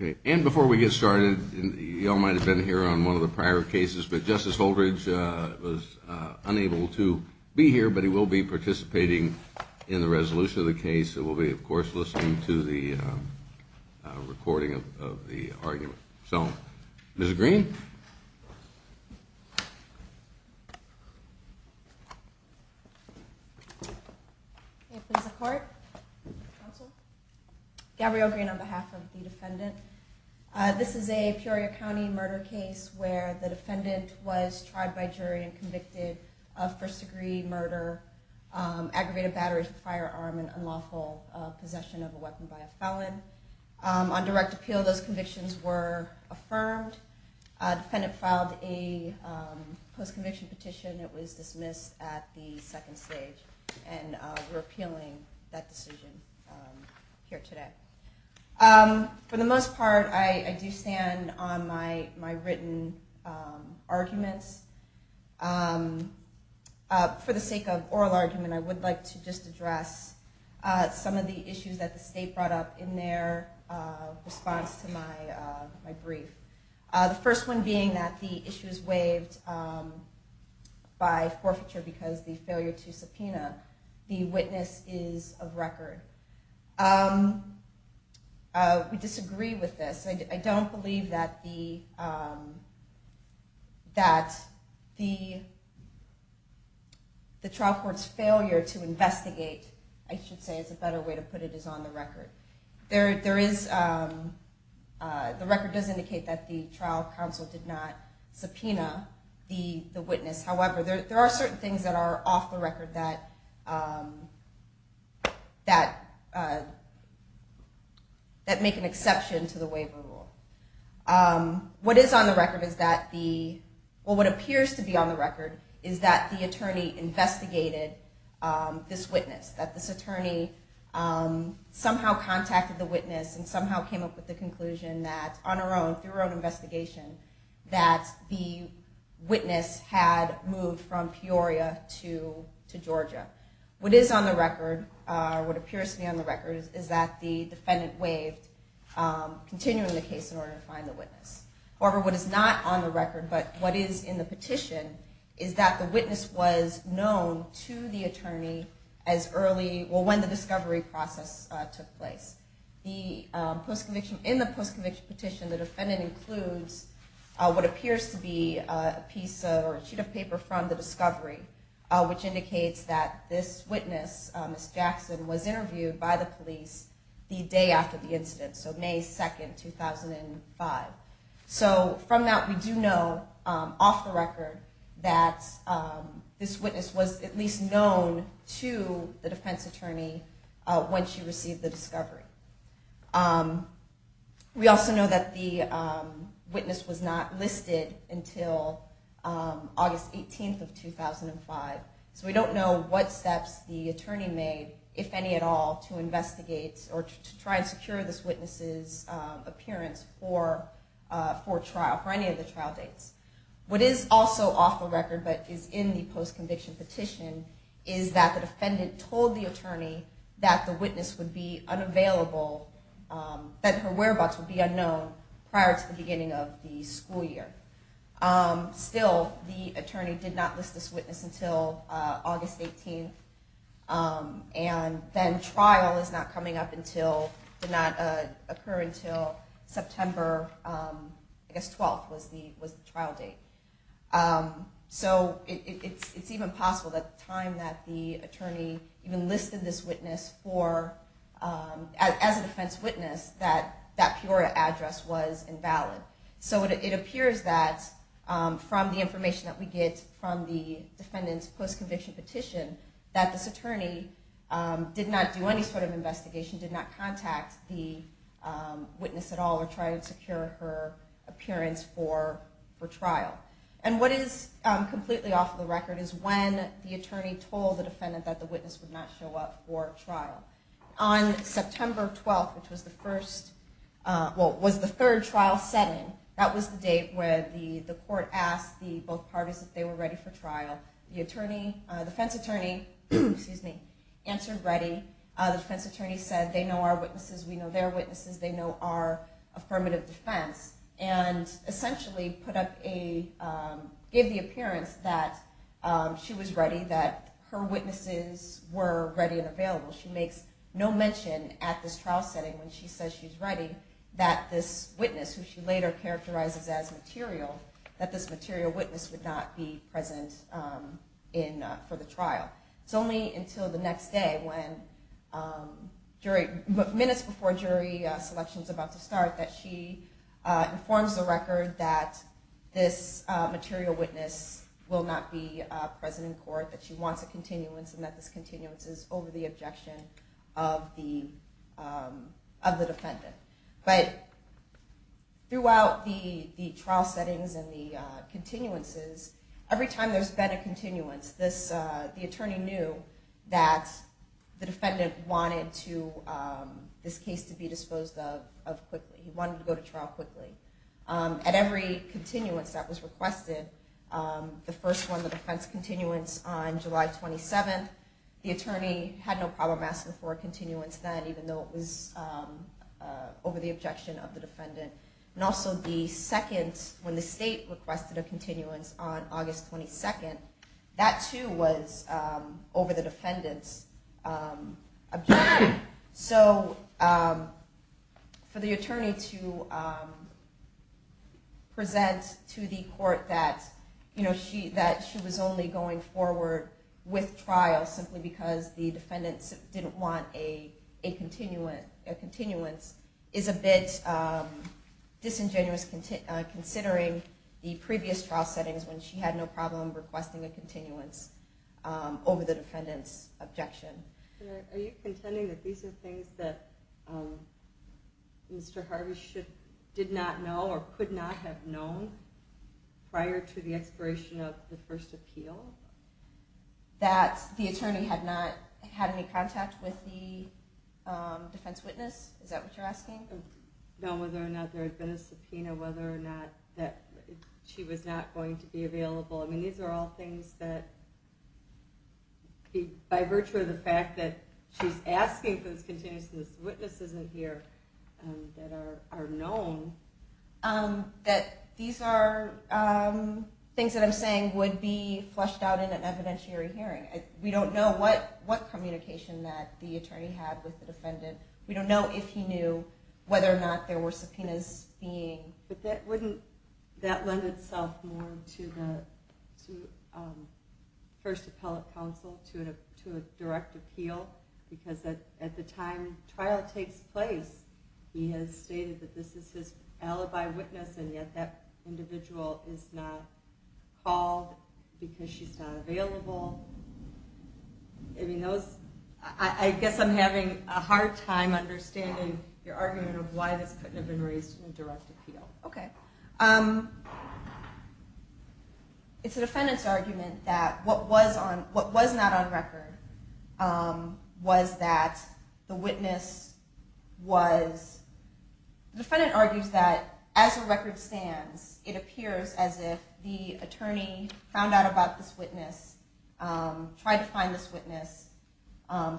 Okay, and before we get started, y'all might have been here on one of the prior cases, but Justice Holdridge was unable to be here, but he will be participating in the resolution of the case, and we'll be, of course, listening to the recording of the argument. So, Ms. Green? Thank you. May it please the court? Counsel? The defendant filed a post-conviction petition. It was dismissed at the second stage, and we're appealing that decision here today. For the most part, I do stand on my written arguments. For the sake of oral argument, I would like to just address some of the issues that the state brought up in their response to my brief. The first one being that the issue is waived by forfeiture because the failure to subpoena the witness is of record. We disagree with this. I don't believe that the trial court's failure to investigate, I should say, is a better way to put it, is on the record. The record does indicate that the trial counsel did not subpoena the witness. However, there are certain things that are off the record that make an exception to the waiver rule. What appears to be on the record is that the attorney investigated this witness, that this attorney somehow contacted the witness and somehow came up with the conclusion that, on her own, through her own investigation, that the witness had moved from Peoria to Georgia. What is on the record, or what appears to be on the record, is that the defendant waived, continuing the case in order to find the witness. However, what is not on the record, but what is in the petition, is that the witness was known to the attorney when the discovery process took place. In the post-conviction petition, the defendant includes what appears to be a sheet of paper from the discovery, which indicates that this witness, Ms. Jackson, was interviewed by the police the day after the incident, so May 2, 2005. From that, we do know, off the record, that this witness was at least known to the defense attorney when she received the discovery. We also know that the witness was not listed until August 18, 2005. So we don't know what steps the attorney made, if any at all, to investigate or to try and secure this witness's appearance for trial, for any of the trial dates. What is also off the record, but is in the post-conviction petition, is that the defendant told the attorney that the witness would be unavailable, that her whereabouts would be unknown, prior to the beginning of the school year. Still, the attorney did not list this witness until August 18, and then trial is not coming up until, did not occur until September, I guess, 12th was the trial date. So it's even possible that at the time that the attorney even listed this witness as a defense witness, that that Pura address was invalid. So it appears that, from the information that we get from the defendant's post-conviction petition, that this attorney did not do any sort of investigation, did not contact the witness at all, or try to secure her appearance for trial. And what is completely off the record is when the attorney told the defendant that the witness would not show up for trial. On September 12th, which was the third trial setting, that was the date where the court asked both parties if they were ready for trial. The defense attorney answered ready. The defense attorney said, they know our witnesses, we know their witnesses, they know our affirmative defense. And essentially gave the appearance that she was ready, that her witnesses were ready and available. She makes no mention at this trial setting when she says she's ready, that this witness, who she later characterizes as material, that this material witness would not be present for the trial. It's only until the next day, minutes before jury selection is about to start, that she informs the record that this material witness will not be present in court. That she wants a continuance and that this continuance is over the objection of the defendant. But throughout the trial settings and the continuances, every time there's been a continuance, the attorney knew that the defendant wanted this case to be disposed of quickly. He wanted to go to trial quickly. At every continuance that was requested, the first one, the defense continuance on July 27th, the attorney had no problem asking for a continuance then, even though it was over the objection of the defendant. And also the second, when the state requested a continuance on August 22nd, that too was over the defendant's objection. So for the attorney to present to the court that she was only going forward with trial simply because the defendant didn't want a continuance is a bit disingenuous, considering the previous trial settings when she had no problem requesting a continuance over the defendant's objection. Are you contending that these are things that Mr. Harvey did not know or could not have known prior to the expiration of the first appeal? That the attorney had not had any contact with the defense witness? Is that what you're asking? No, whether or not there had been a subpoena, whether or not she was not going to be available. I mean, these are all things that, by virtue of the fact that she's asking for this continuance and this witness isn't here, that are known. That these are things that I'm saying would be fleshed out in an evidentiary hearing. We don't know what communication that the attorney had with the defendant. We don't know if he knew whether or not there were subpoenas being... But wouldn't that lend itself more to the first appellate counsel, to a direct appeal? Because at the time trial takes place, he has stated that this is his alibi witness and yet that individual is not called because she's not available. I guess I'm having a hard time understanding your argument of why this couldn't have been raised in a direct appeal. Okay. It's the defendant's argument that what was not on record was that the witness was... It appears as if the attorney found out about this witness, tried to find this witness,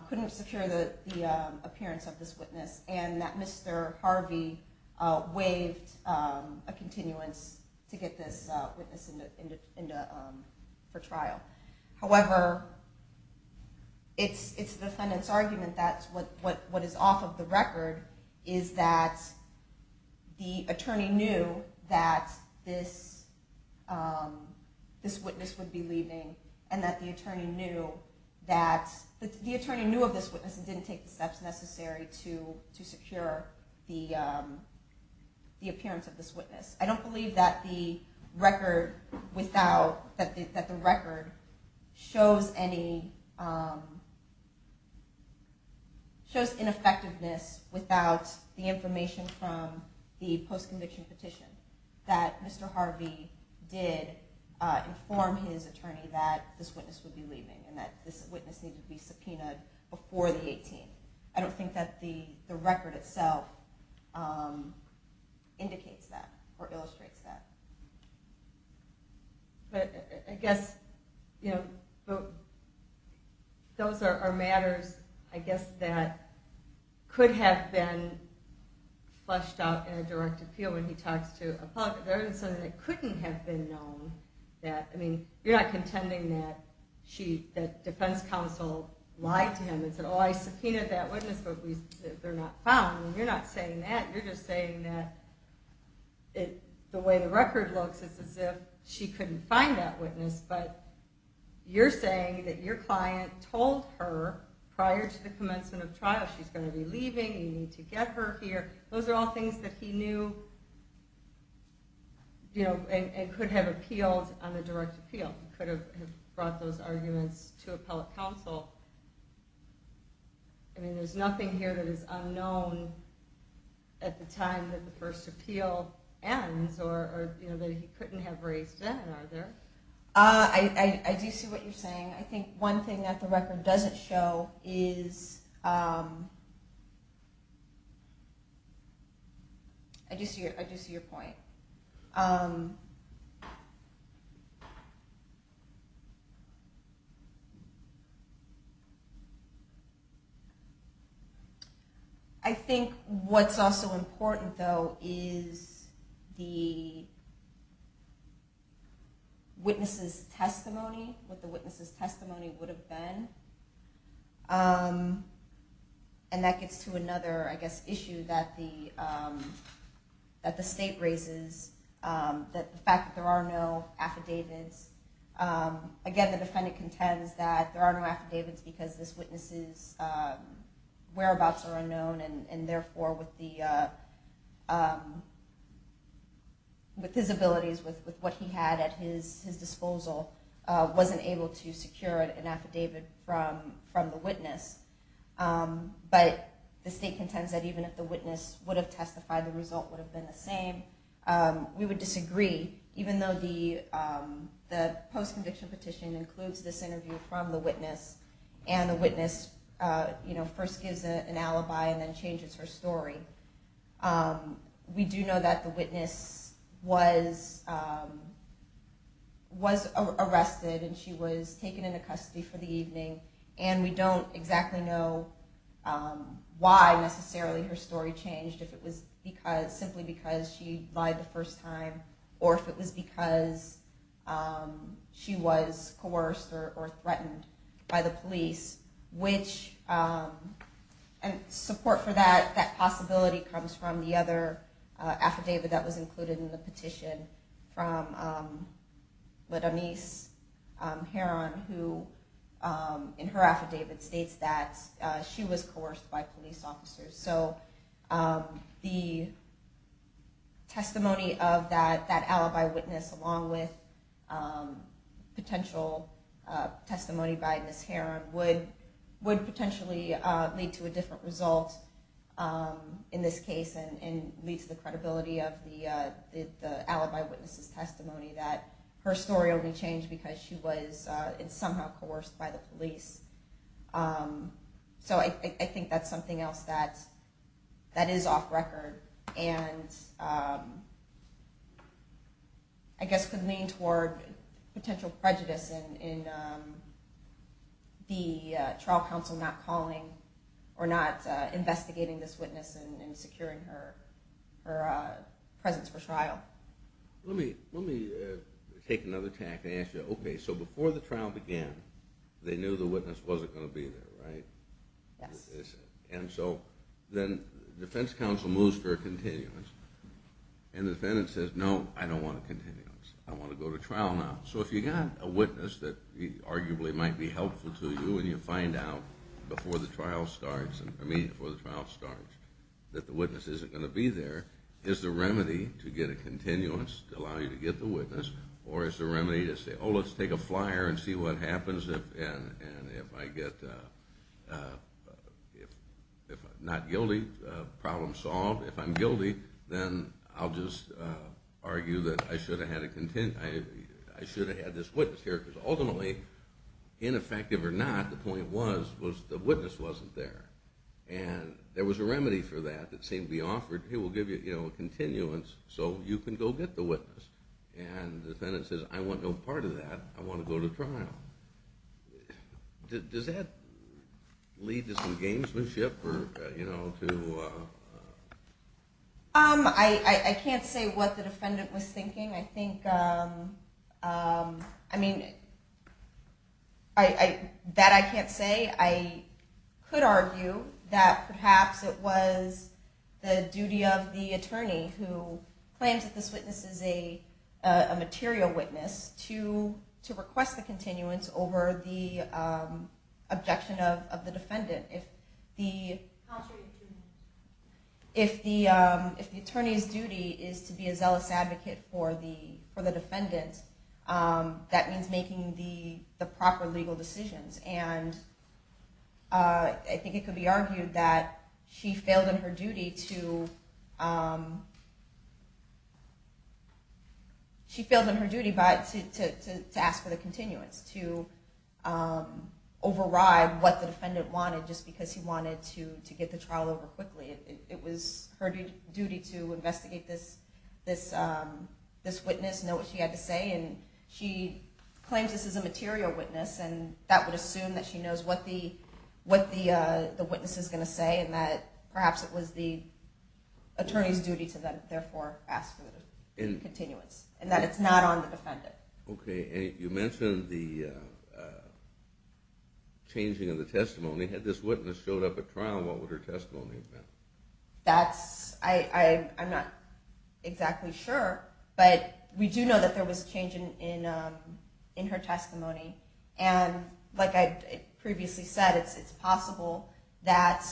couldn't secure the appearance of this witness, and that Mr. Harvey waived a continuance to get this witness for trial. However, it's the defendant's argument that what is off of the record is that the attorney knew that this witness would be leaving and that the attorney knew of this witness and didn't take the steps necessary to secure the appearance of this witness. I don't believe that the record shows ineffectiveness without the information from the post-conviction petition, that Mr. Harvey did inform his attorney that this witness would be leaving and that this witness needed to be subpoenaed before the 18th. I don't think that the record itself indicates that or illustrates that. But I guess those are matters that could have been fleshed out in a direct appeal. You're not contending that the defense counsel lied to him and said, Oh, I subpoenaed that witness, but they're not found. You're not saying that. You're just saying that the way the record looks, it's as if she couldn't find that witness. But you're saying that your client told her prior to the commencement of trial, she's going to be leaving, you need to get her here. Those are all things that he knew and could have appealed on a direct appeal. He could have brought those arguments to appellate counsel. There's nothing here that is unknown at the time that the first appeal ends or that he couldn't have raised then, are there? I do see what you're saying. I think one thing that the record doesn't show is... I do see your point. I think what's also important, though, is the witness's testimony, what the witness's testimony would have been. And that gets to another issue that the state raises, the fact that there are no affidavits. Again, the defendant contends that there are no affidavits because this witness's whereabouts are unknown, and therefore with his abilities, with what he had at his disposal, wasn't able to secure an affidavit from the witness. But the state contends that even if the witness would have testified, the result would have been the same. We would disagree, even though the post-conviction petition includes this interview from the witness, and the witness first gives an alibi and then changes her story. We do know that the witness was arrested and she was taken into custody for the evening, and we don't exactly know why necessarily her story changed, if it was simply because she lied the first time or if it was because she was coerced or threatened by the police. And support for that possibility comes from the other affidavit that was included in the petition, from LaDenise Heron, who in her affidavit states that she was coerced by police officers. So the testimony of that alibi witness along with potential testimony by Ms. Heron would potentially lead to a different result in this case, and leads to the credibility of the alibi witness's testimony that her story only changed because she was somehow coerced by the police. So I think that's something else that is off-record, and I guess could lean toward potential prejudice in the trial counsel not calling or not investigating this witness and securing her presence for trial. Let me take another tack and ask you, okay, so before the trial began, they knew the witness wasn't going to be there, right? And so then the defense counsel moves for a continuance, and the defendant says, no, I don't want a continuance. I want to go to trial now. So if you got a witness that arguably might be helpful to you and you find out before the trial starts, that the witness isn't going to be there, is the remedy to get a continuance to allow you to get the witness, or is the remedy to say, oh, let's take a flyer and see what happens, and if I'm not guilty, problem solved. If I'm guilty, then I'll just argue that I should have had this witness here, because ultimately, ineffective or not, the point was the witness wasn't there. And there was a remedy for that that seemed to be offered. He will give you a continuance so you can go get the witness. And the defendant says, I want no part of that. I want to go to trial. Does that lead to some gamesmanship? I can't say what the defendant was thinking. I mean, that I can't say. I could argue that perhaps it was the duty of the attorney, who claims that this witness is a material witness, to request the continuance over the objection of the defendant. If the attorney's duty is to be a zealous advocate for the defendant, that means making the proper legal decisions. I think it could be argued that she failed in her duty to ask for the continuance, to override what the defendant wanted just because he wanted to get the trial over quickly. It was her duty to investigate this witness, know what she had to say, and she claims this is a material witness, and that would assume that she knows what the witness is going to say and that perhaps it was the attorney's duty to them, therefore ask for the continuance, and that it's not on the defendant. If this witness showed up at trial, what would her testimony have been? I'm not exactly sure, but we do know that there was a change in her testimony. Like I previously said, it's possible that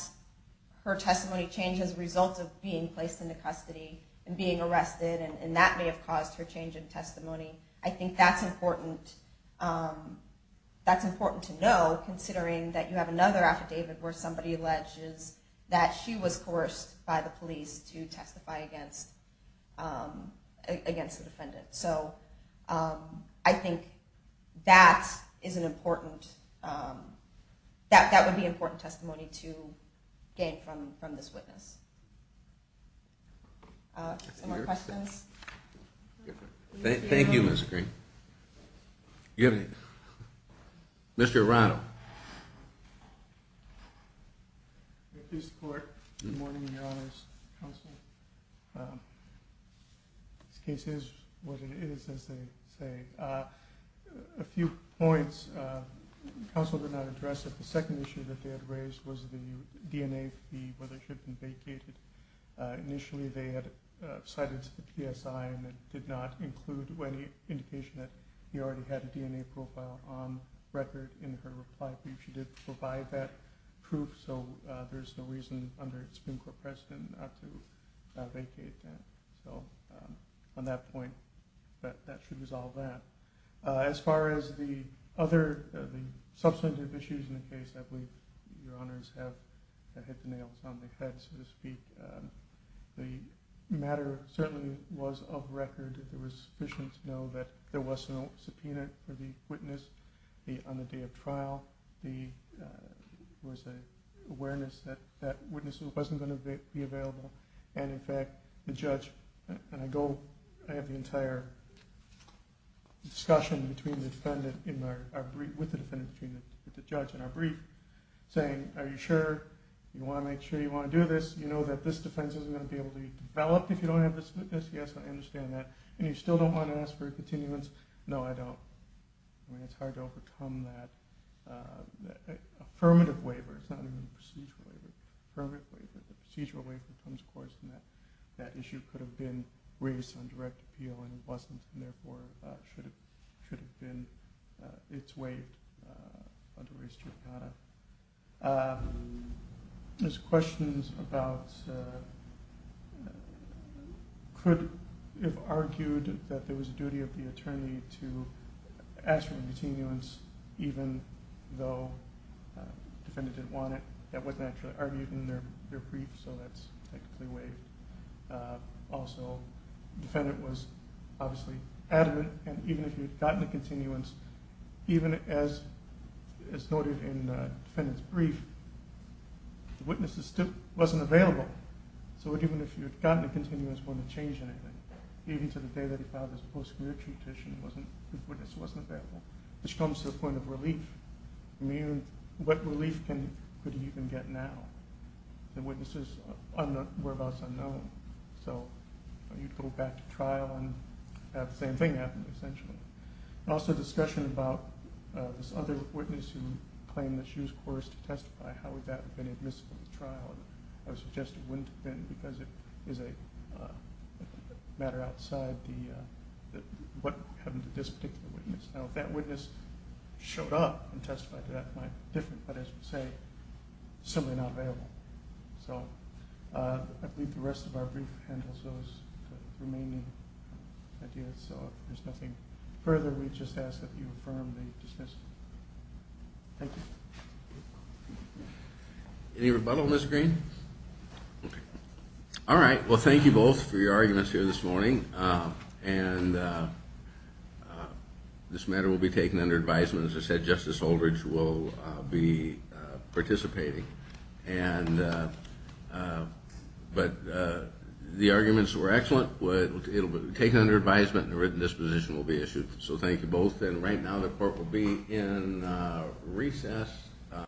her testimony changed as a result of being placed into custody and being arrested, and that may have caused her change in testimony. I think that's important to know, considering that you have another affidavit where somebody alleges that she was forced by the police to testify against the defendant. I think that would be important testimony to gain from this witness. Thank you, Ms. Green. Mr. Arano. Good morning, Your Honors. This case is what it is, as they say. A few points the counsel did not address. The second issue that they had raised was the DNA fee, whether she had been vacated. Initially, they had cited the PSI, and it did not include any indication that he already had a DNA profile on record in her reply brief. She did provide that proof, so there's no reason under Supreme Court precedent not to vacate that. On that point, that should resolve that. As far as the other substantive issues in the case, I believe Your Honors have hit the nails on the head, so to speak. The matter certainly was of record. It was sufficient to know that there was no subpoena for the witness on the day of trial. There was an awareness that that witness wasn't going to be available. In fact, the judge, and I have the entire discussion with the defendant between the judge and our brief, saying, Are you sure? Do you want to make sure you want to do this? Do you know that this defense isn't going to be able to develop if you don't have this witness? Yes, I understand that. And you still don't want to ask for a continuance? No, I don't. I mean, it's hard to overcome that affirmative waiver. It's not even a procedural waiver. The procedural waiver comes, of course, and that issue could have been raised on direct appeal, and it wasn't, and therefore it should have been. It's waived under race judicata. There's questions about whether the witness could have argued that there was a duty of the attorney to ask for a continuance even though the defendant didn't want it. That wasn't actually argued in their brief, so that's technically waived. Also, the defendant was obviously adamant, and even if he had gotten a continuance, even as noted in the defendant's brief, the witness still wasn't available. So even if he had gotten a continuance, it wouldn't have changed anything, even to the day that he filed his post-community petition, the witness wasn't available. Which comes to the point of relief. I mean, what relief could he even get now? The witness's whereabouts are unknown. So you'd go back to trial and have the same thing happen, essentially. Also, discussion about this other witness who claimed that she was coerced to testify, how would that have been admissible at trial? I would suggest it wouldn't have been because it is a matter outside what happened to this particular witness. Now, if that witness showed up and testified to that, it might be different, but as you say, it's simply not available. I believe the rest of our brief handles those remaining ideas, so if there's nothing further, we'd just ask that you affirm the dismissal. Thank you. Any rebuttal, Ms. Green? Alright, well thank you both for your arguments here this morning. This matter will be taken under advisement. As I said, Justice Holdridge will be participating. But the arguments were excellent. It will be taken under advisement and a written disposition will be issued. So thank you both, and right now the court will be in recess.